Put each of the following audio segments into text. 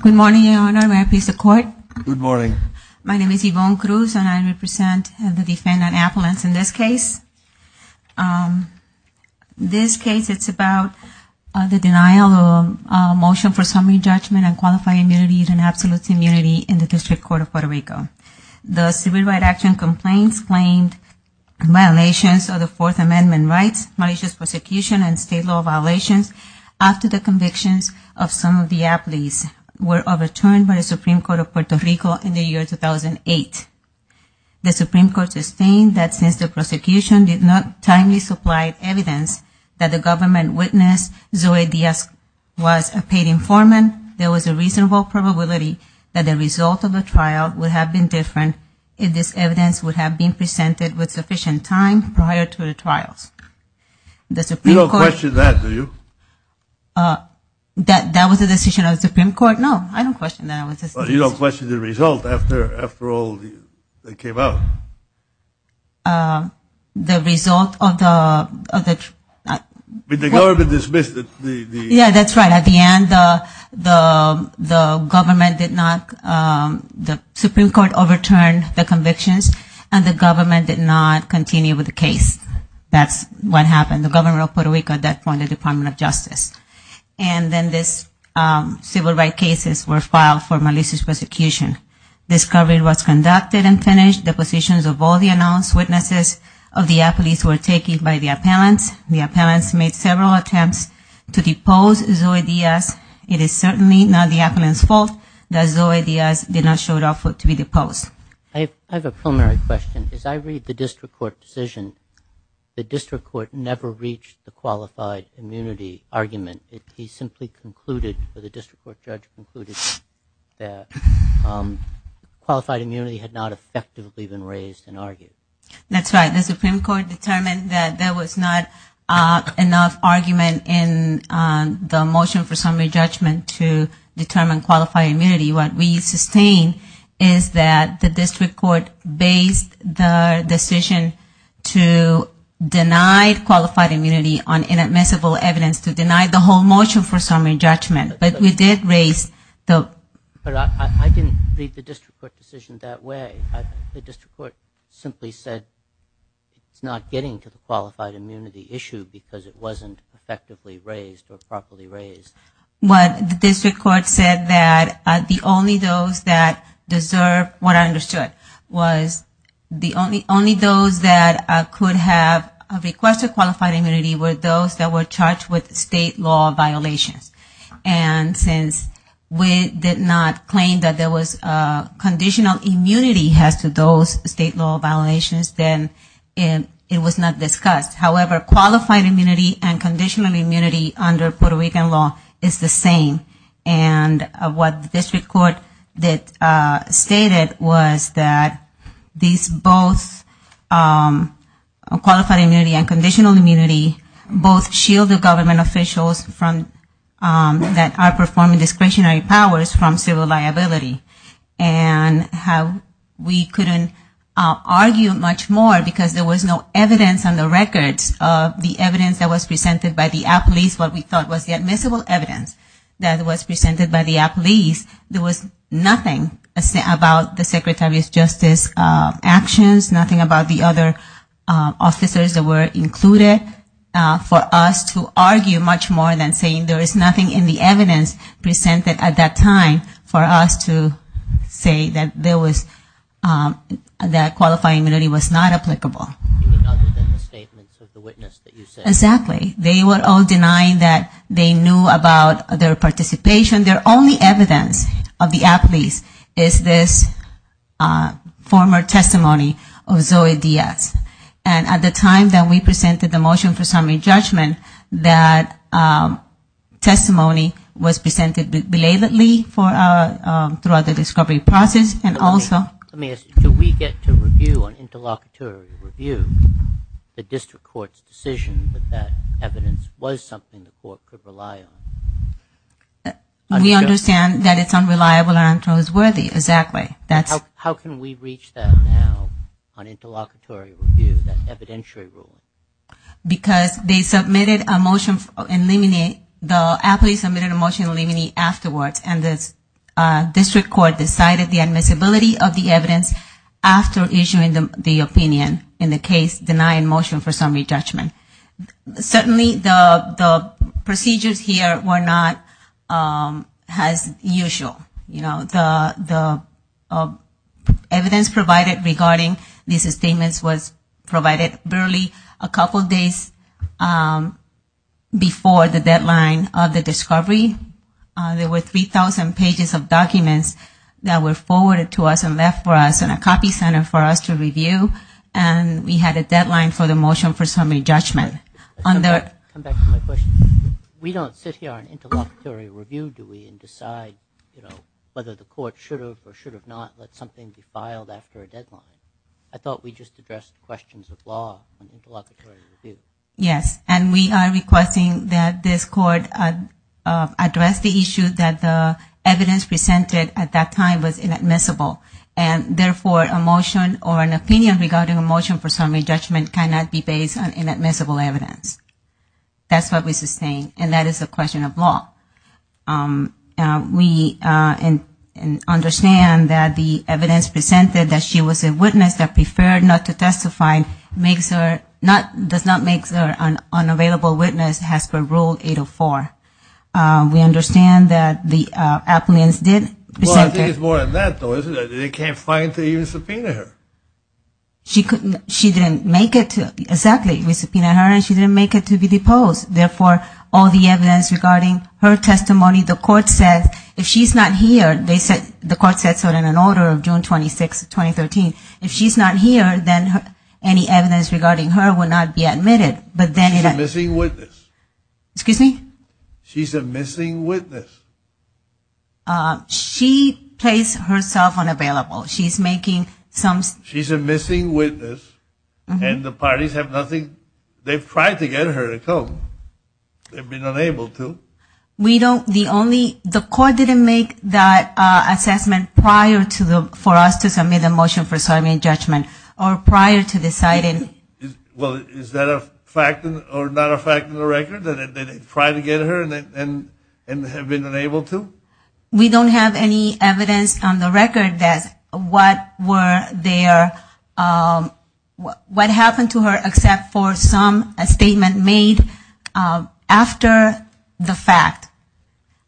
Good morning, Your Honor. May I please the court? Good morning. My name is Yvonne Cruz, and I represent the defendant, Appolins, in this case. This case, it's about the denial of a motion for summary judgment on qualifying immunity as an absolute immunity in the District Court of Puerto Rico. The Civil Rights Action Complaints claimed violations of the Fourth Amendment rights, malicious prosecution, and state law violations after the convictions of some of the Appolins were overturned by the Supreme Court of Puerto Rico in the year 2008. The Supreme Court sustained that since the prosecution did not timely supply evidence that the government witness, Zoe Diaz, was a paid informant, there was a reasonable probability that the result of the trial would have been different if this evidence would have been presented with sufficient time prior to the trials. You don't question that, do you? That was a decision of the Supreme Court? No, I don't question that. You don't question the result after all that came out? The result of the… The government dismissed the… Yeah, that's right. At the end, the government did not, the Supreme Court overturned the convictions and the government did not continue with the case. That's what happened. The government of Puerto Rico at that point, the Department of Justice. And then these civil rights cases were filed for malicious prosecution. Discovery was conducted and finished. The positions of all the announced witnesses of the Appolins were taken by the appellants. The appellants made several attempts to depose Zoe Diaz. It is certainly not the appellant's fault that Zoe Diaz did not show up to be deposed. I have a preliminary question. As I read the district court decision, the district court never reached the qualified immunity argument. He simply concluded, or the district court judge concluded, that qualified immunity had not effectively been raised and argued. That's right. The Supreme Court determined that there was not enough argument in the motion for summary judgment to determine qualified immunity. What we sustain is that the district court based the decision to deny qualified immunity on inadmissible evidence to deny the whole motion for summary judgment. But we did raise the… But I didn't read the district court decision that way. The district court simply said it's not getting to the qualified immunity issue because it wasn't effectively raised or properly raised. What the district court said that the only those that deserve what I understood was the only those that could have requested qualified immunity were those that were charged with state law violations. And since we did not claim that there was conditional immunity as to those state law violations, then it was not discussed. However, qualified immunity and conditional immunity under Puerto Rican law is the same. And what the district court stated was that these both, qualified immunity and conditional immunity, both shield the government officials that are performing discretionary powers from civil liability. And how we couldn't argue much more because there was no evidence on the records of the evidence that was presented by the police, what we thought was the admissible evidence that was presented by the police. There was nothing about the Secretary of Justice's actions, nothing about the other officers that were included for us to argue much more than saying there is nothing in the evidence presented at that time for us to say that there was, that qualified immunity was not applicable. Other than the statements of the witness that you said. Exactly. They were all denying that they knew about their participation. Their only evidence of the athletes is this former testimony of Zoe Diaz. And at the time that we presented the motion for summary judgment, that testimony was presented belatedly throughout the discovery process and also. Let me ask you, do we get to review, an interlocutory review, the district court's decision that that evidence was something the court could rely on? We understand that it's unreliable and untrustworthy, exactly. How can we reach that now on interlocutory review, that evidentiary rule? Because they submitted a motion, the athletes submitted a motion to eliminate afterwards and the district court decided the admissibility of the evidence after issuing the opinion in the case denying motion for summary judgment. Certainly the procedures here were not as usual. The evidence provided regarding these statements was provided barely a couple days before the deadline of the discovery. There were 3,000 pages of documents that were forwarded to us and left for us in a copy center for us to review. And we had a deadline for the motion for summary judgment. Come back to my question. We don't sit here on interlocutory review, do we, and decide whether the court should have or should have not let something be filed after a deadline. I thought we just addressed questions of law on interlocutory review. Yes. And we are requesting that this court address the issue that the evidence presented at that time was inadmissible. And therefore a motion or an opinion regarding a motion for summary judgment cannot be based on inadmissible evidence. That's what we sustain. And that is a question of law. We understand that the evidence presented that she was a witness that preferred not to testify does not make her an unavailable witness as per Rule 804. We understand that the applicants did present that. Well, I think it's more than that, though, isn't it? They can't find to even subpoena her. She didn't make it to exactly. We subpoenaed her and she didn't make it to be deposed. Therefore, all the evidence regarding her testimony, the court said if she's not here, the court said so in an order of June 26, 2013. If she's not here, then any evidence regarding her will not be admitted. But she's a missing witness. Excuse me? She's a missing witness. She placed herself unavailable. She's making some. She's a missing witness. And the parties have nothing. They've tried to get her to come. They've been unable to. We don't. The only. The court didn't make that assessment prior to the, for us to submit a motion for summary judgment or prior to deciding. Well, is that a fact or not a fact of the record? That they tried to get her and have been unable to? We don't have any evidence on the record that what were their, what happened to her except for some statement made after the fact.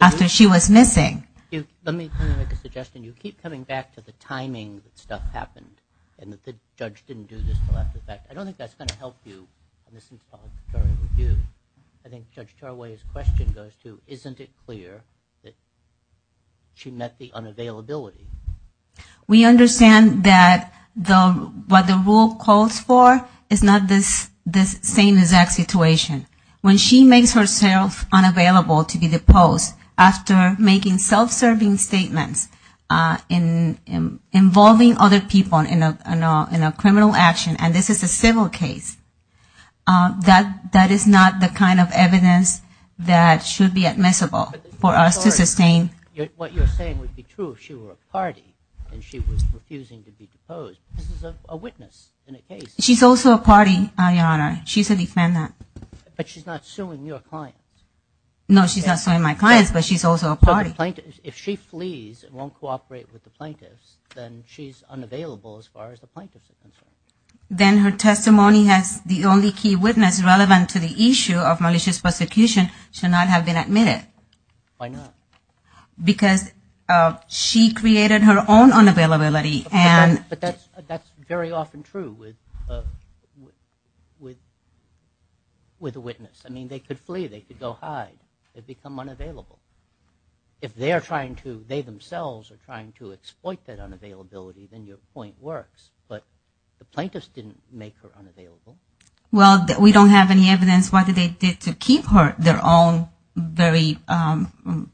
After she was missing. Let me make a suggestion. You keep coming back to the timing that stuff happened and that the judge didn't do this until after the fact. I don't think that's going to help you in this involuntary review. I think Judge Taraway's question goes to isn't it clear that she met the unavailability? We understand that what the rule calls for is not this same exact situation. When she makes herself unavailable to be deposed after making self-serving statements involving other people in a criminal action, and this is a civil case, that is not the kind of evidence that should be admissible for us to sustain. What you're saying would be true if she were a party and she was refusing to be deposed. This is a witness in a case. She's also a party, Your Honor. She's a defendant. But she's not suing your clients. No, she's not suing my clients, but she's also a party. If she flees and won't cooperate with the plaintiffs, then she's unavailable as far as the plaintiffs are concerned. Then her testimony as the only key witness relevant to the issue of malicious prosecution should not have been admitted. Why not? Because she created her own unavailability. But that's very often true with a witness. I mean, they could flee, they could go hide. They become unavailable. If they themselves are trying to exploit that unavailability, then your point works. But the plaintiffs didn't make her unavailable. Well, we don't have any evidence what they did to keep her, their own very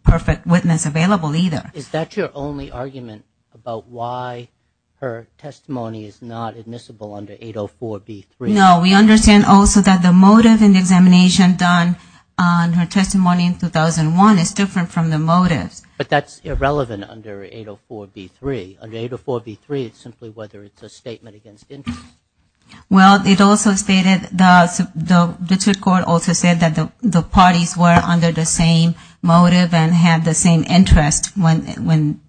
perfect witness available either. Is that your only argument about why her testimony is not admissible under 804B3? No. We understand also that the motive in the examination done on her testimony in 2001 is different from the motives. But that's irrelevant under 804B3. Under 804B3, it's simply whether it's a statement against interest. Well, it also stated, the district court also said that the parties were under the same motive and had the same interest when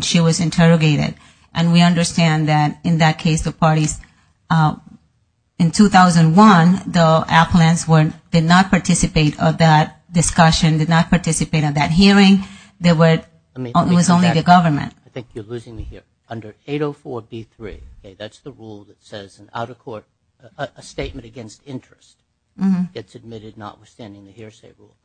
she was interrogated. And we understand that in that case, the parties in 2001, the appellants did not participate of that discussion, did not participate of that hearing. It was only the government. I think you're losing me here. Under 804B3, that's the rule that says an out-of-court statement against interest gets admitted notwithstanding the hearsay rule.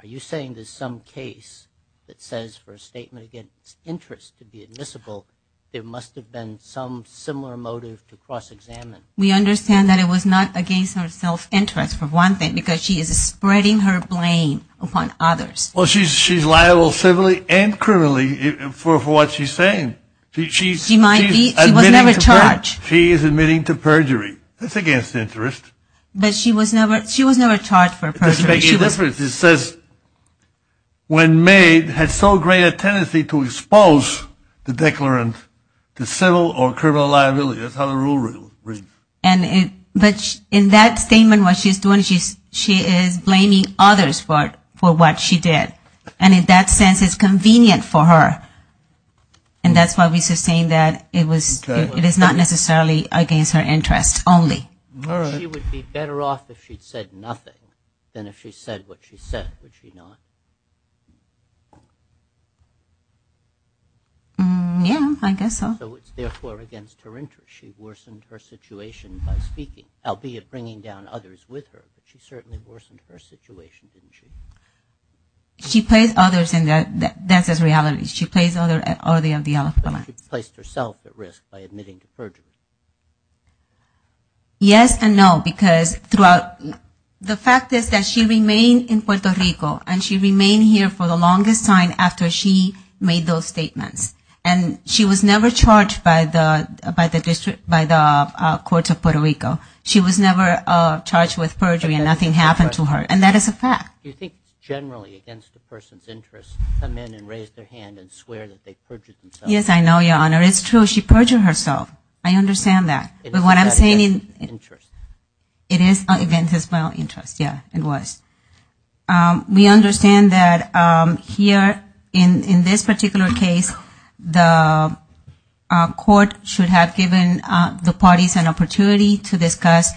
Are you saying there's some case that says for a statement against interest to be admissible, there must have been some similar motive to cross-examine? We understand that it was not against her self-interest, for one thing, because she is spreading her blame upon others. Well, she's liable civilly and criminally for what she's saying. She was never charged. She is admitting to perjury. That's against interest. But she was never charged for perjury. It doesn't make any difference. It says, when made, had so great a tendency to expose the declarant to civil or criminal liability. That's how the rule reads. But in that statement, what she's doing, she is blaming others for what she did. And in that sense, it's convenient for her. And that's why we sustain that it is not necessarily against her interest only. She would be better off if she'd said nothing than if she said what she said, would she not? Yeah, I guess so. So it's therefore against her interest. She worsened her situation by speaking, albeit bringing down others with her. But she certainly worsened her situation, didn't she? She placed others, and that's as reality. But she placed herself at risk by admitting to perjury. Yes and no. Because the fact is that she remained in Puerto Rico, and she remained here for the longest time after she made those statements. And she was never charged by the courts of Puerto Rico. She was never charged with perjury, and nothing happened to her. And that is a fact. Do you think generally against the person's interest to come in and raise their hand and swear that they perjured themselves? Yes, I know, Your Honor. It's true. She perjured herself. I understand that. But what I'm saying is- It is not against her interest. It is against her interest. Yeah, it was. We understand that here in this particular case, the court should have given the parties an opportunity to discuss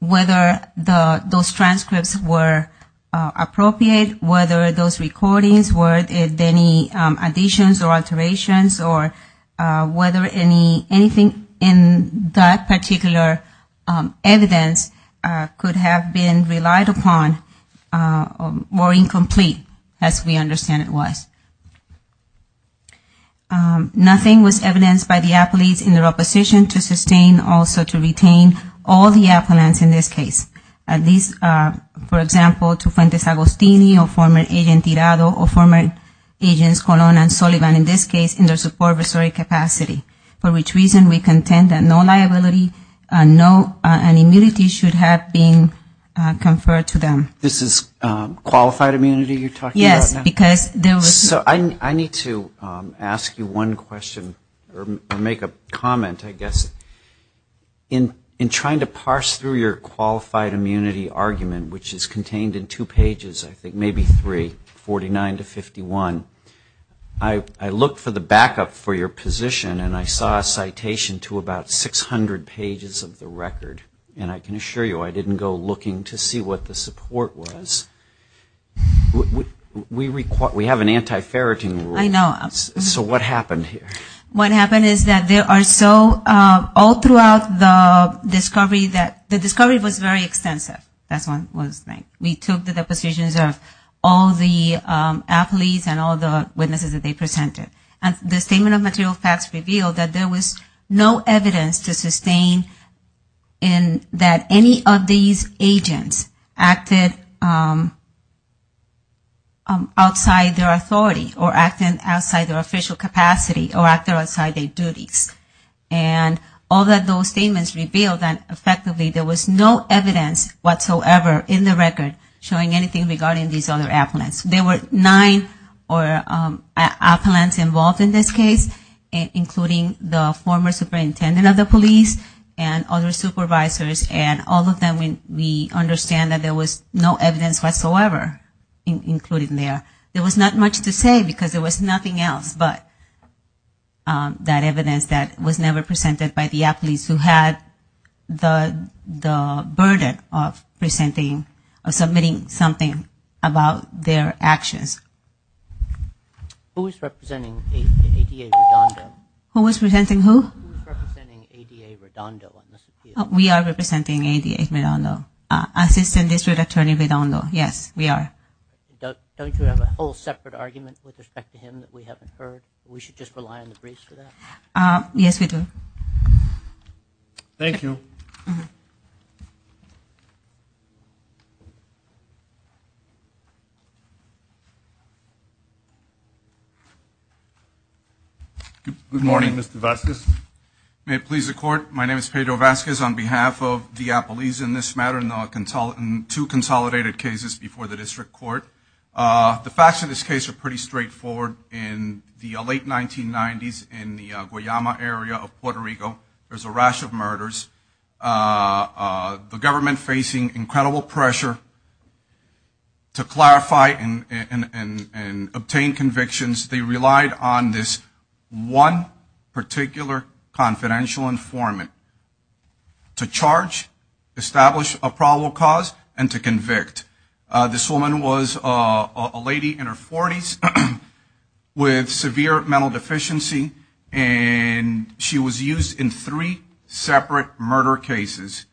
whether those transcripts were appropriate, whether those recordings were any additions or alterations, or whether anything in that particular evidence could have been relied upon or incomplete, as we understand it was. Nothing was evidenced by the appellees in their opposition to sustain also to retain all the appellants in this case. These, for example, to Fuentes Agostini, or former agent Tirado, or former agents Colon and Sullivan, in this case, in their support of historic capacity. For which reason we contend that no liability, no immunity should have been conferred to them. This is qualified immunity you're talking about? Yes, because there was- So I need to ask you one question or make a comment, I guess. In trying to parse through your qualified immunity argument, which is contained in two pages, I think maybe three, 49 to 51, I looked for the backup for your position and I saw a citation to about 600 pages of the record. And I can assure you I didn't go looking to see what the support was. We have an anti-ferreting rule. I know. So what happened here? What happened is that there are so all throughout the discovery that the discovery was very extensive. That's one thing. We took the depositions of all the appellees and all the witnesses that they presented. And the statement of material facts revealed that there was no evidence to sustain in that any of these agents acted outside their authority or acting outside their duties. And all of those statements revealed that effectively there was no evidence whatsoever in the record showing anything regarding these other appellants. There were nine appellants involved in this case, including the former superintendent of the police and other supervisors. And all of them we understand that there was no evidence whatsoever included in there. There was not much to say because there was nothing else but that evidence that was never presented by the appellees who had the burden of presenting or submitting something about their actions. Who is representing ADA Redondo? Who is representing who? And we have a whole separate argument with respect to him that we haven't heard. We should just rely on the briefs for that. Yes, we do. Thank you. Good morning, Mr. Vasquez. May it please the court, my name is Pedro Vasquez on behalf of the appellees in this matter. And two consolidated cases before the district court. The facts of this case are pretty straightforward. In the late 1990s in the Guayama area of Puerto Rico, there was a rash of murders. The government facing incredible pressure to clarify and obtain convictions. They relied on this one particular confidential informant to charge, establish a probable cause and to convict. This woman was a lady in her 40s with severe mental deficiency. And she was used in three separate murder cases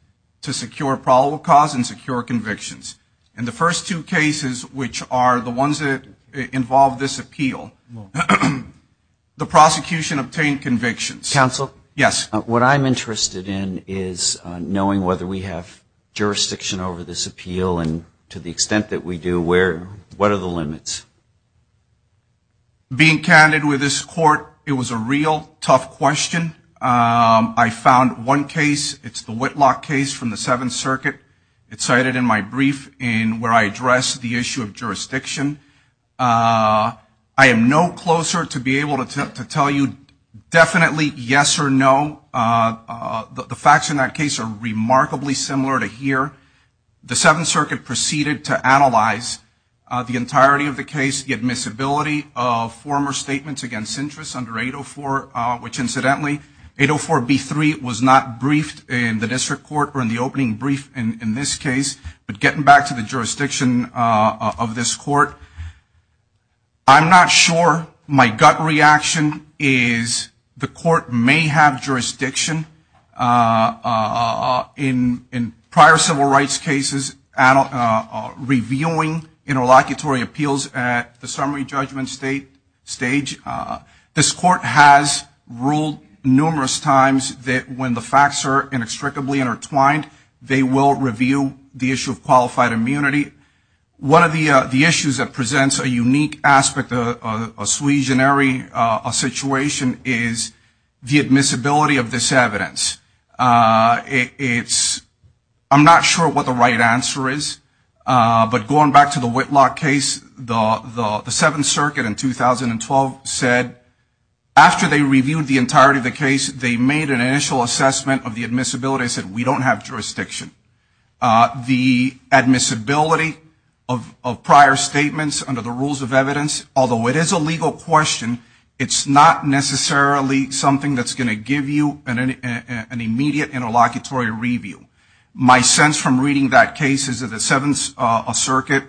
to secure probable cause and secure convictions. In the first two cases, which are the ones that involve this appeal, the prosecution obtained convictions. Counsel, what I'm interested in is knowing whether we have jurisdiction over this appeal and to the extent that we do, what are the limits? Being candid with this court, it was a real tough question. I found one case, it's the Whitlock case from the Seventh Circuit. It's cited in my brief in where I address the issue of jurisdiction. I am no closer to be able to tell you definitely yes or no. The facts in that case are remarkably similar to here. The Seventh Circuit proceeded to analyze the entirety of the case, the admissibility of former statements against interests under 804, which incidentally 804B3 was not briefed in the district court or in the opening brief in this case. But getting back to the jurisdiction of this court, I'm not sure. My gut reaction is the court may have jurisdiction in prior civil rights cases reviewing interlocutory appeals at the summary judgment stage. This court has ruled numerous times that when the facts are inextricably intertwined, they will review the issue of qualified immunity. One of the issues that presents a unique aspect, a situation is the admissibility of this evidence. It's, I'm not sure what the right answer is. But going back to the Whitlock case, the Seventh Circuit in 2012 said after they reviewed the entirety of the case, they made an initial assessment of the admissibility and said we don't have jurisdiction. The admissibility of prior statements under the rules of evidence, although it is a legal question, it's not necessarily something that's going to give you an immediate interlocutory review. My sense from reading that case is that the Seventh Circuit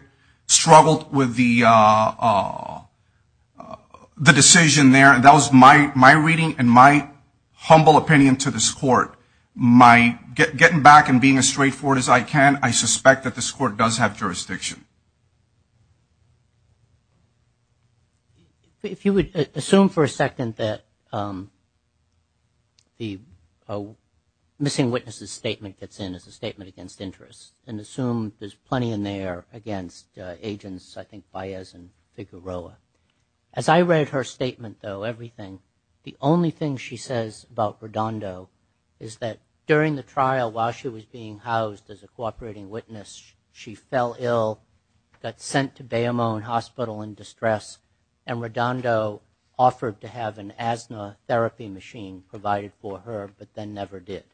struggled with the decision there. And that was my reading and my humble opinion to this court. My, getting back and being as straightforward as I can, I suspect that this court does have jurisdiction. If you would assume for a second that the missing witnesses statement that they made, fits in as a statement against interest, and assume there's plenty in there against agents, I think Baez and Figueroa. As I read her statement, though, everything, the only thing she says about Redondo is that during the trial, while she was being housed as a cooperating witness, she fell ill, got sent to Bayamone Hospital in distress, and Redondo offered to have an asthma therapy machine provided for her, but then never did.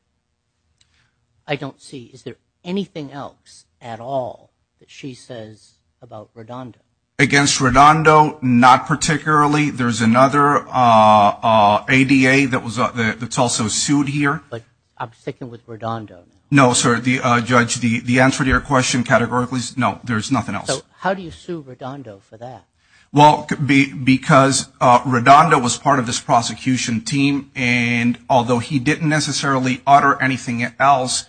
I don't see, is there anything else at all that she says about Redondo? Against Redondo, not particularly. There's another ADA that's also sued here. But I'm sticking with Redondo. No, sir, Judge, the answer to your question categorically is no, there's nothing else. So how do you sue Redondo for that? Because Redondo was part of this prosecution team, and although he didn't necessarily utter anything else,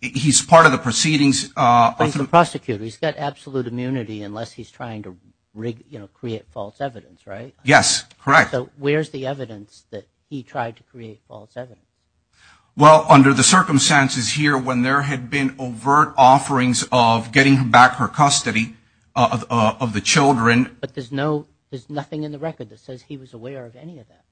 he's part of the proceedings. But he's a prosecutor, he's got absolute immunity unless he's trying to create false evidence, right? Yes, correct. So where's the evidence that he tried to create false evidence? Well, under the circumstances here, when there had been overt offerings of getting back her custody of the children. But there's nothing in the record that says he was aware of any of that.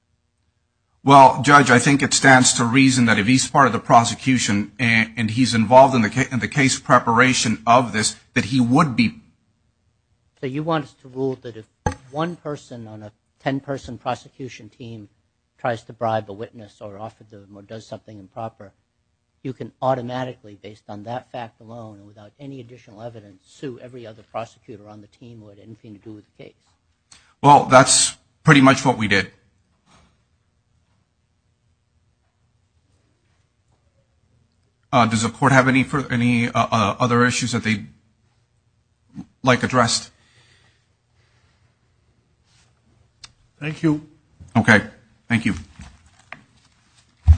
Well, Judge, I think it stands to reason that if he's part of the prosecution and he's involved in the case preparation of this, that he would be. So you want us to rule that if one person on a 10-person prosecution team tries to bribe a witness or offer them or does something improper, you can automatically, based on that fact alone and without any additional evidence, sue every other prosecutor on the team who had anything to do with the case? Well, that's pretty much what we did. Does the court have any other issues that they'd like addressed? Thank you. Okay. Thank you.